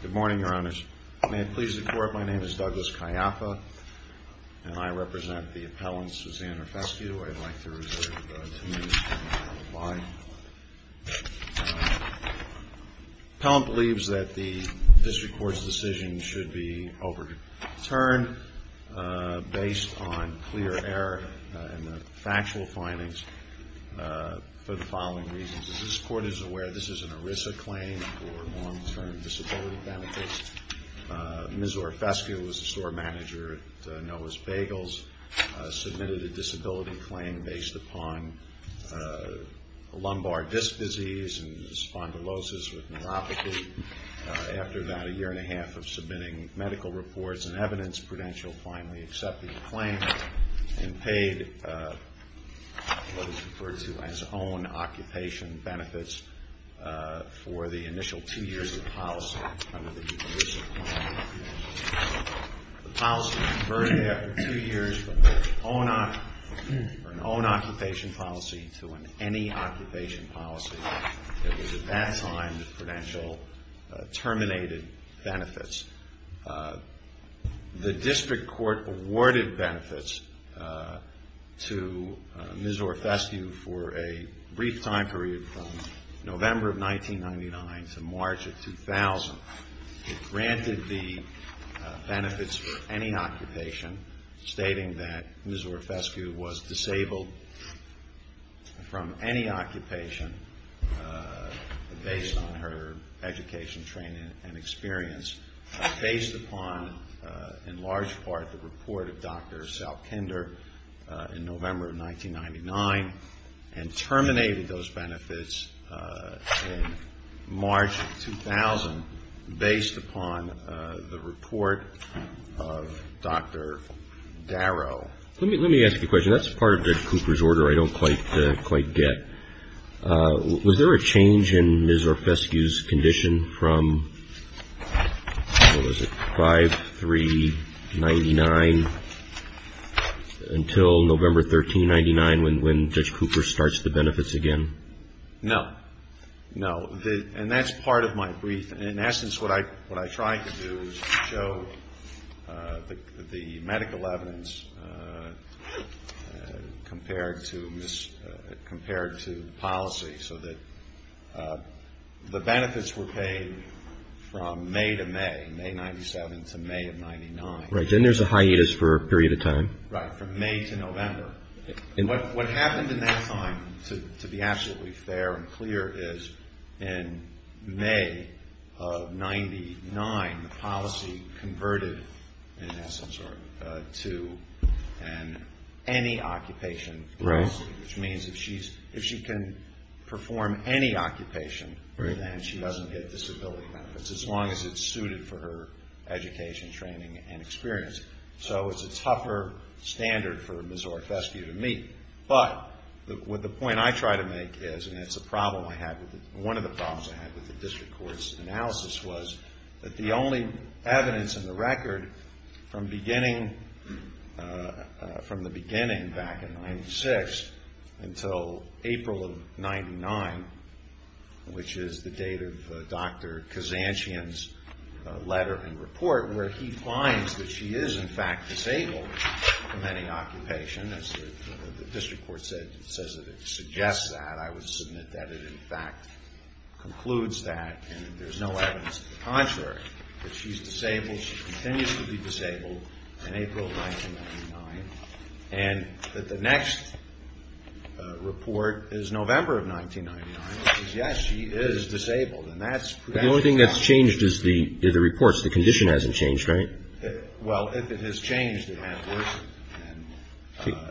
Good morning, your honors. May it please the court, my name is Douglas Caiappa, and I represent the appellant Susanna Orfescu. I'd like to reserve two minutes for my reply. The appellant believes that the district court's decision should be overturned based on clear error in the factual findings for the following reasons. As this court is aware, this is an ERISA claim for long-term disability benefits. Ms. Orfescu was the store manager at Noah's Bagels, submitted a disability claim based upon lumbar disc disease and spondylosis with neuropathy. After about a year and a half of submitting medical reports and evidence, Prudential finally accepted the claim and paid what is referred to as own occupation benefits for the initial two years of policy under the ERISA claim. The policy was converted after two years from an own occupation policy to an any occupation policy. It was at that time that Prudential terminated benefits. The district court awarded benefits to Ms. Orfescu for a brief time period from November of 1999 to March of 2000. It granted the benefits for any occupation, stating that Ms. Orfescu was disabled from any occupation based on her education, training, and experience. Based upon, in large part, the report of Dr. Salkinder in November of 1999, and terminated those benefits in March of 2000 based upon the report of Dr. Darrow. Let me ask you a question. That's part of Judge Cooper's order I don't quite get. Was there a change in Ms. Orfescu's condition from, what was it, 5-3-99 until November 13-99 when Judge Cooper starts the benefits again? No. No. And that's part of my brief. In essence, what I tried to do was to show the medical evidence compared to policy so that the benefits were paid from May to May, May 97 to May of 99. Right. Then there's a hiatus for a period of time. Right. From May to November. What happened in that time, to be absolutely fair and clear, is in May of 99, the policy converted, in essence, to an any occupation policy. standard for Ms. Orfescu to meet. But, what the point I try to make is, and it's a problem I have, one of the problems I had with the district court's analysis was that the only evidence in the record from beginning, from the beginning back in 96 until April of 99, which is the date of Dr. Kazantian's letter and report where he finds that she is in fact disabled, from any occupation, as the district court says that it suggests that, I would submit that it in fact concludes that and there's no evidence of the contrary, that she's disabled, she continues to be disabled in April of 99, and that the next report is November of 99, which is yes, she is disabled. But the only thing that's changed is the reports. The condition hasn't changed, right? Well, if it has changed, it has worsened.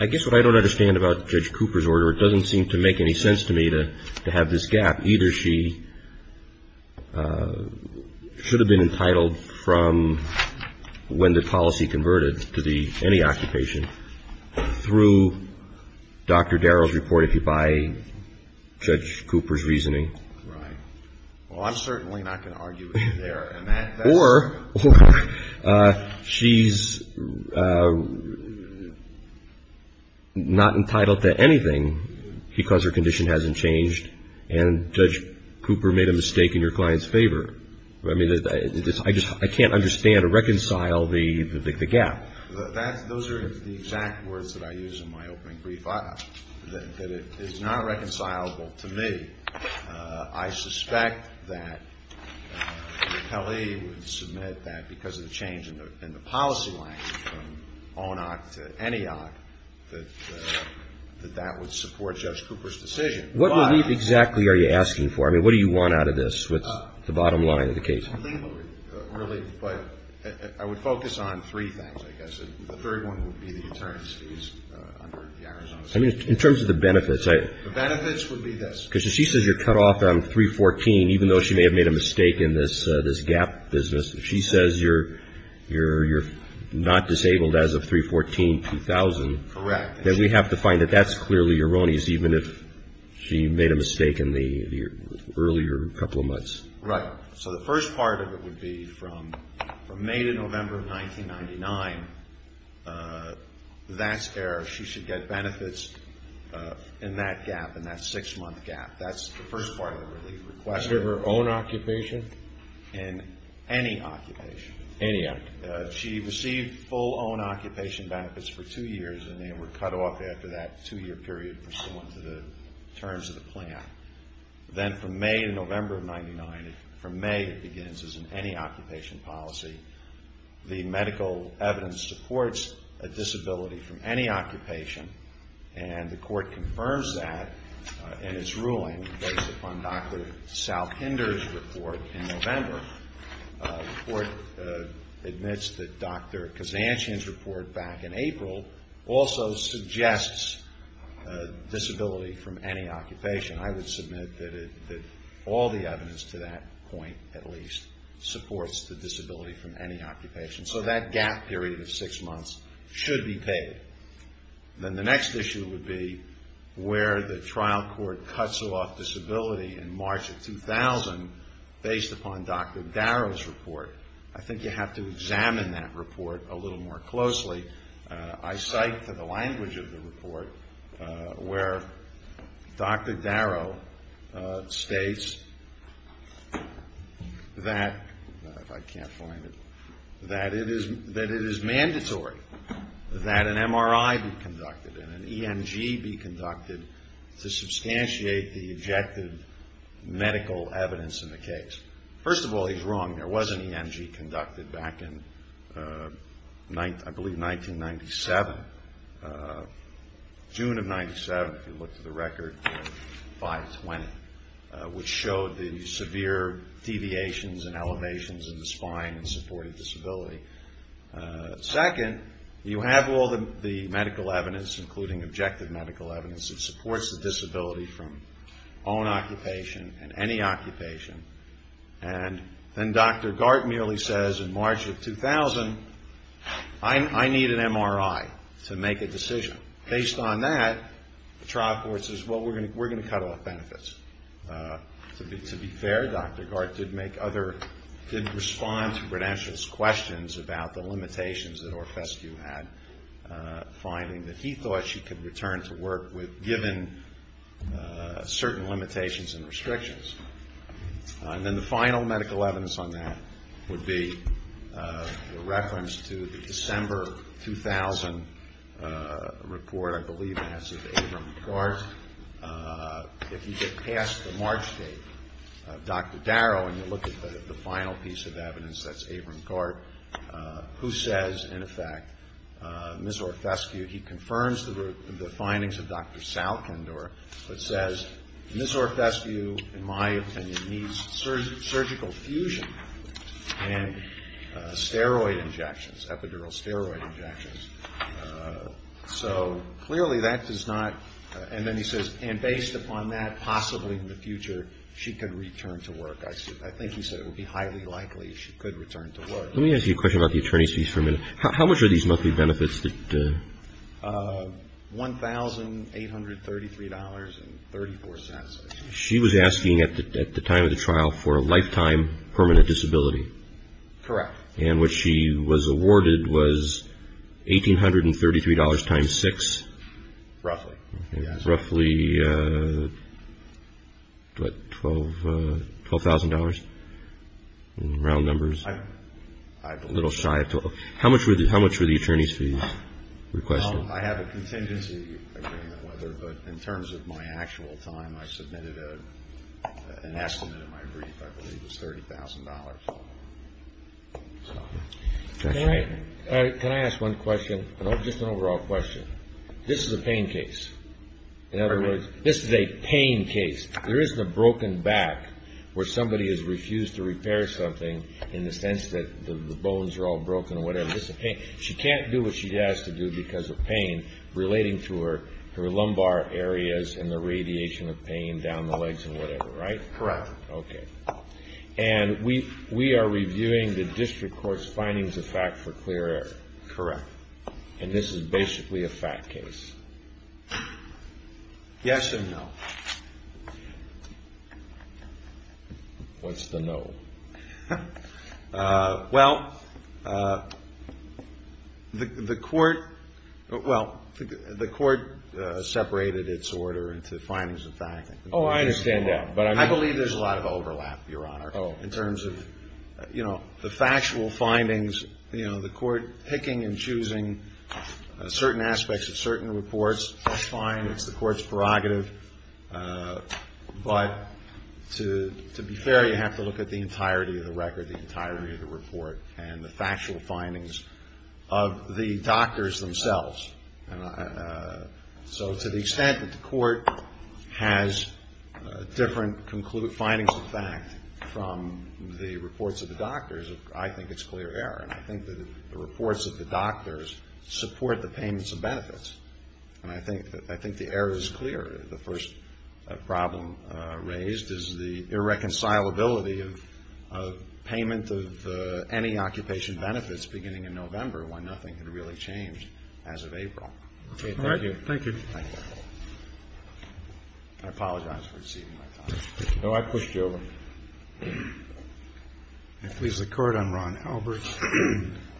I guess what I don't understand about Judge Cooper's order, it doesn't seem to make any sense to me to have this gap. Right. Well, I'm certainly not going to argue with you there. Or she's not entitled to anything because her condition hasn't changed and Judge Cooper made a mistake in your client's favor. I mean, I just can't understand or reconcile the gap. Those are the exact words that I use in my opening brief, that it is not reconcilable to me. I suspect that Kelly would submit that because of the change in the policy lines from ONOC to ENEOC, that that would support Judge Cooper's decision. What relief exactly are you asking for? I mean, what do you want out of this? What's the bottom line of the case? I would focus on three things, I guess. The third one would be the attorney's fees under the Arizona statute. I mean, in terms of the benefits. The benefits would be this. Because if she says you're cut off on 314, even though she may have made a mistake in this gap business, if she says you're not disabled as of 314-2000. Correct. Then we have to find that that's clearly erroneous, even if she made a mistake in the earlier couple of months. Right. So the first part of it would be from May to November of 1999, that's where she should get benefits in that gap, in that six-month gap. That's the first part of the relief request. Was it her own occupation? In any occupation. Any occupation. She received full own occupation benefits for two years, and they were cut off after that two-year period pursuant to the terms of the plan. Then from May to November of 1999, from May it begins as in any occupation policy, the medical evidence supports a disability from any occupation, and the court confirms that in its ruling based upon Dr. Salpinder's report in November. The court admits that Dr. Kazanchian's report back in April also suggests disability from any occupation. I would submit that all the evidence to that point at least supports the disability from any occupation. So that gap period of six months should be paid. Then the next issue would be where the trial court cuts her off disability in March of 2000 based upon Dr. Darrow's report. I think you have to examine that report a little more closely. I cite to the language of the report where Dr. Darrow states that, if I can't find it, that it is mandatory that an MRI be conducted and an ENG be conducted to substantiate the objective medical evidence in the case. First of all, he's wrong. There was an ENG conducted back in, I believe, 1997, June of 1997, if you look to the record, in 520, which showed the severe deviations and elevations in the spine and supported disability. Second, you have all the medical evidence, including objective medical evidence, that supports the disability from own occupation and any occupation. And then Dr. Gart merely says, in March of 2000, I need an MRI to make a decision. Based on that, the trial court says, well, we're going to cut off benefits. To be fair, Dr. Gart did make other, did respond to Bradanchian's questions about the limitations that Orfescu had, finding that he thought she could return to work with, given certain limitations and restrictions. And then the final medical evidence on that would be a reference to the December 2000 report, I believe, asked of Abram Gart. If you get past the March date of Dr. Darrow and you look at the final piece of evidence, that's Abram Gart, who says, in effect, Ms. Orfescu, he confirms the findings of Dr. Salkind or says, Ms. Orfescu, in my opinion, needs surgical fusion and steroid injections, epidural steroid injections. So clearly that does not, and then he says, and based upon that, possibly in the future, she could return to work. I think he said it would be highly likely she could return to work. Let me ask you a question about the attorney's fees for a minute. How much are these monthly benefits? $1,833.34. She was asking at the time of the trial for a lifetime permanent disability. Correct. And what she was awarded was $1,833 times six? Roughly. Roughly, what, $12,000 in round numbers? I'm a little shy. How much were the attorneys' fees requested? I have a contingency agreement with her, but in terms of my actual time, I submitted an estimate in my brief, I believe, which was $30,000. Can I ask one question, just an overall question? This is a pain case. In other words, this is a pain case. There isn't a broken back where somebody has refused to repair something in the sense that the bones are all broken or whatever. She can't do what she has to do because of pain relating to her lumbar areas and the radiation of pain down the legs and whatever, right? Correct. Okay. And we are reviewing the district court's findings of fact for clear error? Correct. And this is basically a fact case? Yes and no. What's the no? Well, the court separated its order into findings of fact. Oh, I understand that. I believe there's a lot of overlap, Your Honor, in terms of, you know, the factual findings. You know, the court picking and choosing certain aspects of certain reports, that's fine. It's the court's prerogative. But to be fair, you have to look at the entirety of the record, the entirety of the report, and the factual findings of the doctors themselves. So to the extent that the court has different findings of fact from the reports of the doctors, I think it's clear error. And I think the reports of the doctors support the payments of benefits. And I think the error is clear. The first problem raised is the irreconcilability of payment of any occupation benefits beginning in November when nothing had really changed as of April. All right. Thank you. Thank you. I apologize for exceeding my time. No, I pushed you over. If it pleases the Court, I'm Ron Albert,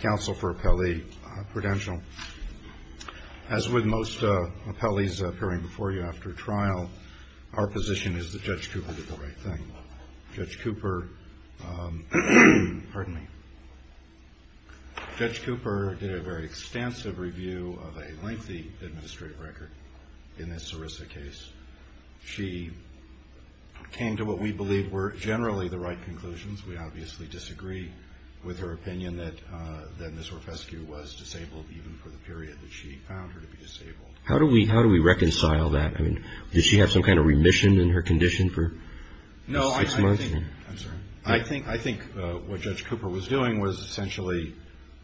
counsel for Appellee Prudential. As with most appellees appearing before you after trial, our position is that Judge Cooper did the right thing. Judge Cooper did a very extensive review of a lengthy administrative record in this Sarissa case. She came to what we believe were generally the right conclusions. We obviously disagree with her opinion that Ms. Rofescu was disabled even for the period that she found her to be disabled. How do we reconcile that? I mean, did she have some kind of remission in her condition for six months? No, I think what Judge Cooper was doing was essentially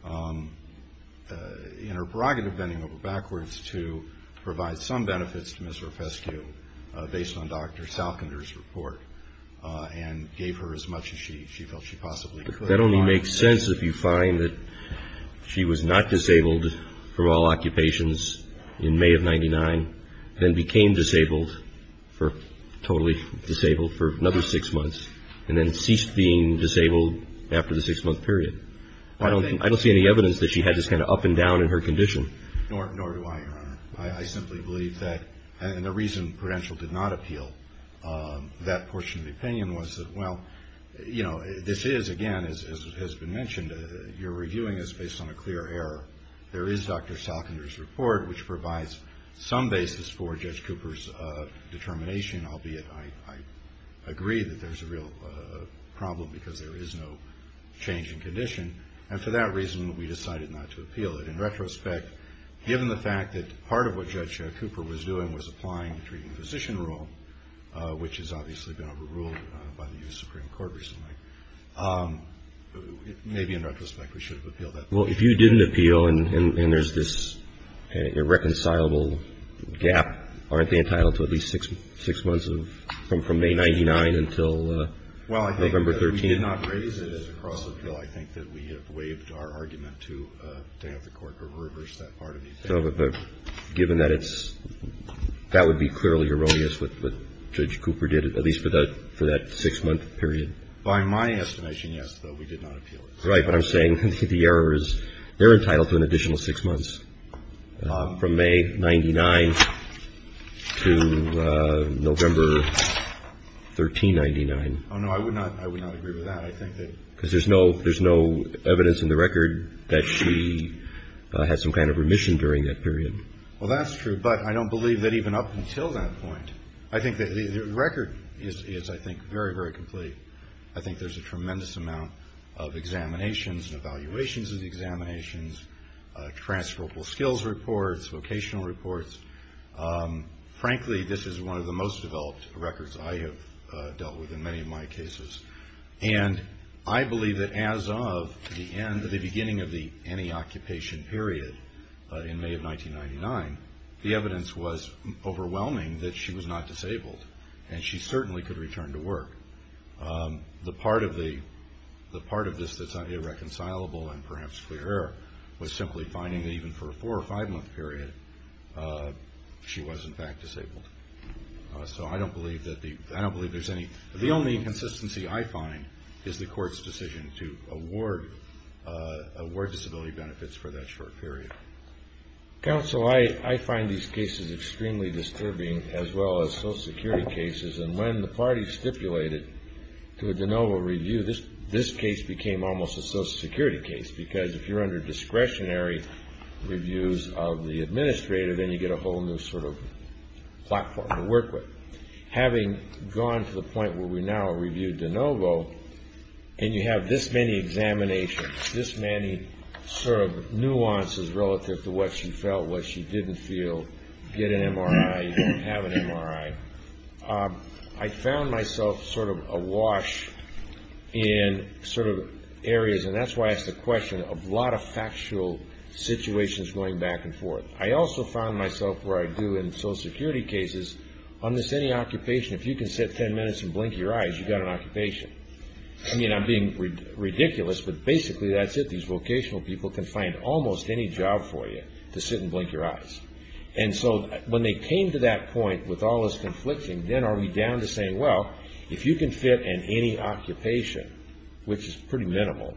in her prerogative bending over backwards to provide some benefits to Ms. Rofescu based on Dr. Salkinder's report and gave her as much as she felt she possibly could. That only makes sense if you find that she was not disabled for all occupations in May of 1999, then became disabled, totally disabled, for another six months, and then ceased being disabled after the six-month period. I don't see any evidence that she had this kind of up and down in her condition. Nor do I, Your Honor. I simply believe that, and the reason Prudential did not appeal that portion of the opinion was that, well, you know, this is, again, as has been mentioned, you're reviewing this based on a clear error. There is Dr. Salkinder's report, which provides some basis for Judge Cooper's determination, albeit I agree that there's a real problem because there is no change in condition. And for that reason, we decided not to appeal it. In retrospect, given the fact that part of what Judge Cooper was doing was applying the treating physician rule, which has obviously been overruled by the U.S. Supreme Court or something, maybe in retrospect we should have appealed that portion. Well, if you didn't appeal and there's this irreconcilable gap, aren't they entitled to at least six months from May 99 until November 13? Well, I think that we did not raise it as a cross-appeal. I think that we have waived our argument to have the Court reverse that part of the opinion. Given that it's – that would be clearly erroneous what Judge Cooper did, at least for that six-month period. By my estimation, yes, though, we did not appeal it. Right, but I'm saying the error is they're entitled to an additional six months from May 99 to November 1399. Oh, no, I would not agree with that. Because there's no evidence in the record that she had some kind of remission during that period. Well, that's true, but I don't believe that even up until that point. I think that the record is, I think, very, very complete. I think there's a tremendous amount of examinations and evaluations of the examinations, transferable skills reports, vocational reports. Frankly, this is one of the most developed records I have dealt with in many of my cases. And I believe that as of the end, the beginning of the anti-occupation period in May of 1999, the evidence was overwhelming that she was not disabled and she certainly could return to work. The part of this that's irreconcilable and perhaps clear was simply finding that even for a four- or five-month period, so I don't believe there's any. The only inconsistency I find is the court's decision to award disability benefits for that short period. Counsel, I find these cases extremely disturbing as well as Social Security cases. And when the party stipulated to a de novo review, this case became almost a Social Security case because if you're under discretionary reviews of the administrator, then you get a whole new sort of platform to work with. Having gone to the point where we now review de novo and you have this many examinations, this many sort of nuances relative to what she felt, what she didn't feel, get an MRI, have an MRI, I found myself sort of awash in sort of areas, and that's why I ask the question, a lot of factual situations going back and forth. I also found myself where I do in Social Security cases, on this any occupation, if you can sit ten minutes and blink your eyes, you've got an occupation. I mean, I'm being ridiculous, but basically that's it. These vocational people can find almost any job for you to sit and blink your eyes. And so when they came to that point with all this conflicting, then are we down to saying, well, if you can fit in any occupation, which is pretty minimal,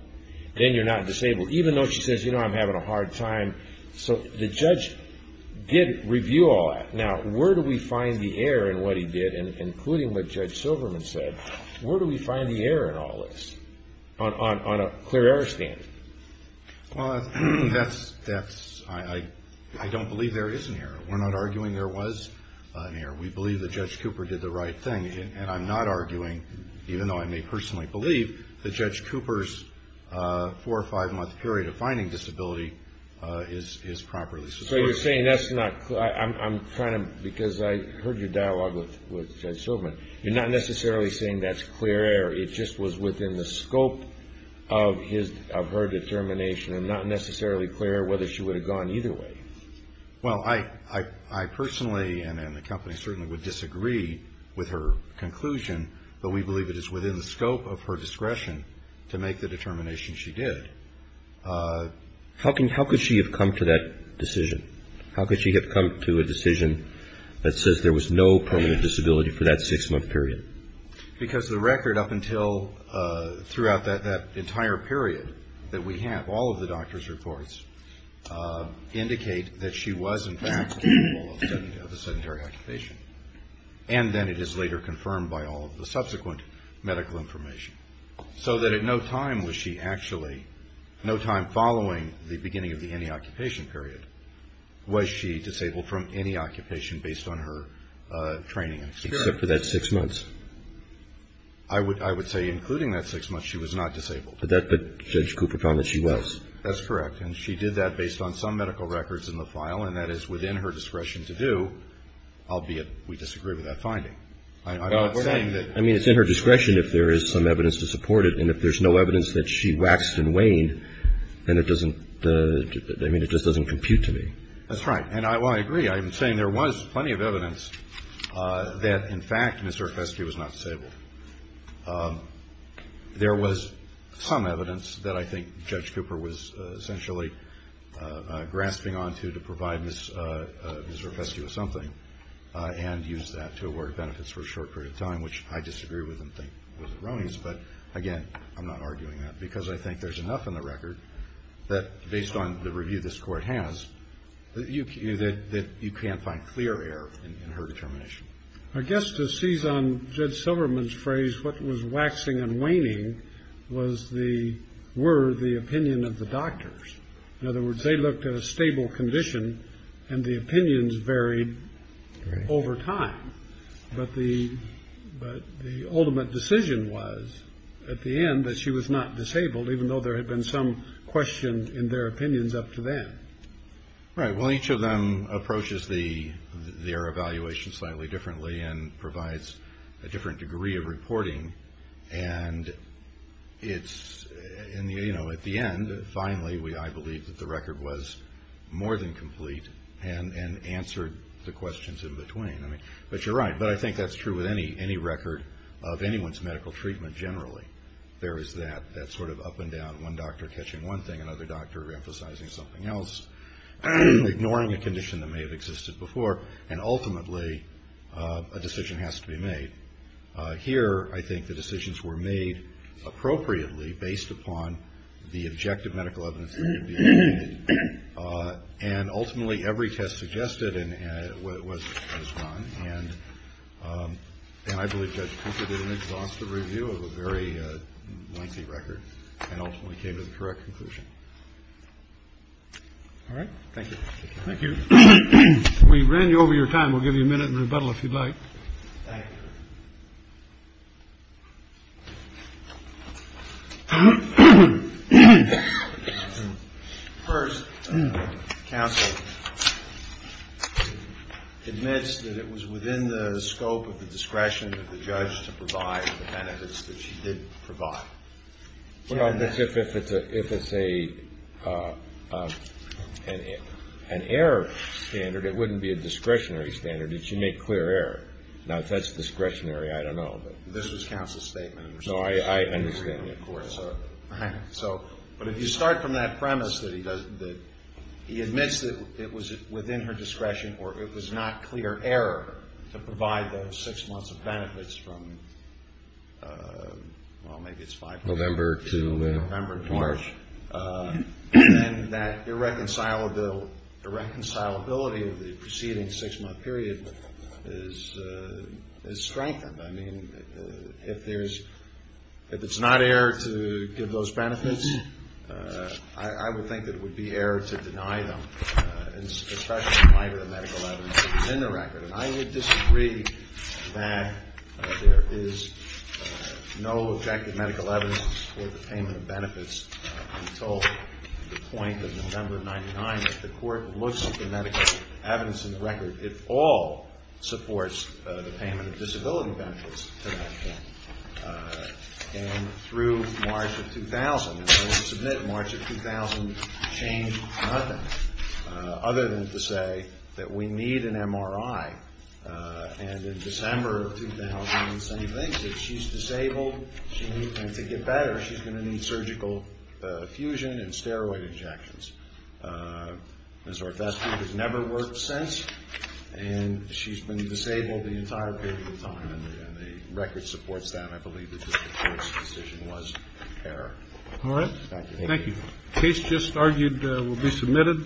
then you're not disabled, even though she says, you know, I'm having a hard time. So the judge did review all that. Now, where do we find the error in what he did, including what Judge Silverman said? Where do we find the error in all this on a clear error standard? Well, I don't believe there is an error. We're not arguing there was an error. We believe that Judge Cooper did the right thing. And I'm not arguing, even though I may personally believe, that Judge Cooper's four- or five-month period of finding disability is properly supported. So you're saying that's not clear. I'm trying to, because I heard your dialogue with Judge Silverman, you're not necessarily saying that's clear error. It just was within the scope of her determination and not necessarily clear whether she would have gone either way. Well, I personally and the company certainly would disagree with her conclusion, but we believe it is within the scope of her discretion to make the determination she did. How could she have come to that decision? How could she have come to a decision that says there was no permanent disability for that six-month period? Because the record up until throughout that entire period that we have, all of the doctor's reports indicate that she was, in fact, capable of a sedentary occupation. And then it is later confirmed by all of the subsequent medical information. So that at no time was she actually, no time following the beginning of the any-occupation period, was she disabled from any occupation based on her training and experience. Except for that six months. I would say including that six months, she was not disabled. But Judge Cooper found that she was. That's correct. And she did that based on some medical records in the file, and that is within her discretion to do, albeit we disagree with that finding. I'm not saying that. I mean, it's in her discretion if there is some evidence to support it. And if there's no evidence that she waxed and waned, then it doesn't, I mean, it just doesn't compute to me. That's right. And I agree. I'm saying there was plenty of evidence that, in fact, Ms. Zerfescu was not disabled. There was some evidence that I think Judge Cooper was essentially grasping onto to provide Ms. Zerfescu with something and use that to award benefits for a short period of time, which I disagree with and think was erroneous. But, again, I'm not arguing that because I think there's enough in the record that, based on the review this Court has, that you can't find clear error in her determination. I guess to seize on Judge Silverman's phrase, what was waxing and waning were the opinion of the doctors. In other words, they looked at a stable condition, and the opinions varied over time. But the ultimate decision was, at the end, that she was not disabled, even though there had been some question in their opinions up to then. Right. Well, each of them approaches their evaluation slightly differently and provides a different degree of reporting. And, you know, at the end, finally, I believe that the record was more than complete and answered the questions in between. But you're right. But I think that's true with any record of anyone's medical treatment generally. There is that sort of up and down, one doctor catching one thing, another doctor emphasizing something else, ignoring a condition that may have existed before. And, ultimately, a decision has to be made. Here, I think the decisions were made appropriately, based upon the objective medical evidence that could be obtained. And, ultimately, every test suggested was fine. And I believe Judge Cooper did an exhaustive review of a very lengthy record and ultimately came to the correct conclusion. All right. Thank you. Thank you. We ran you over your time. We'll give you a minute in rebuttal, if you'd like. Thank you. First, counsel admits that it was within the scope of the discretion of the judge to provide the benefits that she did provide. Well, if it's an error standard, it wouldn't be a discretionary standard. It should make clear error. Now, if that's discretionary, I don't know. This was counsel's statement. No, I understand that. All right. But if you start from that premise that he admits that it was within her discretion or it was not clear error to provide those six months of benefits from, well, maybe it's five months. November to March. November to March. And then that irreconcilability of the preceding six-month period is strengthened. I mean, if it's not error to give those benefits, I would think that it would be error to deny them, especially in light of the medical evidence that was in the record. And I would disagree that there is no objective medical evidence for the payment of benefits until the point of November of 1999. I mean, if the court looks at the medical evidence in the record, it all supports the payment of disability benefits to that woman. And through March of 2000, and I will submit March of 2000 changed nothing, other than to say that we need an MRI. And in December of 2000, the same thing. If she's disabled and to get better, she's going to need surgical fusion and steroid injections. Ms. Orfasky has never worked since, and she's been disabled the entire period of time. And the record supports that. I believe that the court's decision was error. All right. Thank you. The case just argued will be submitted.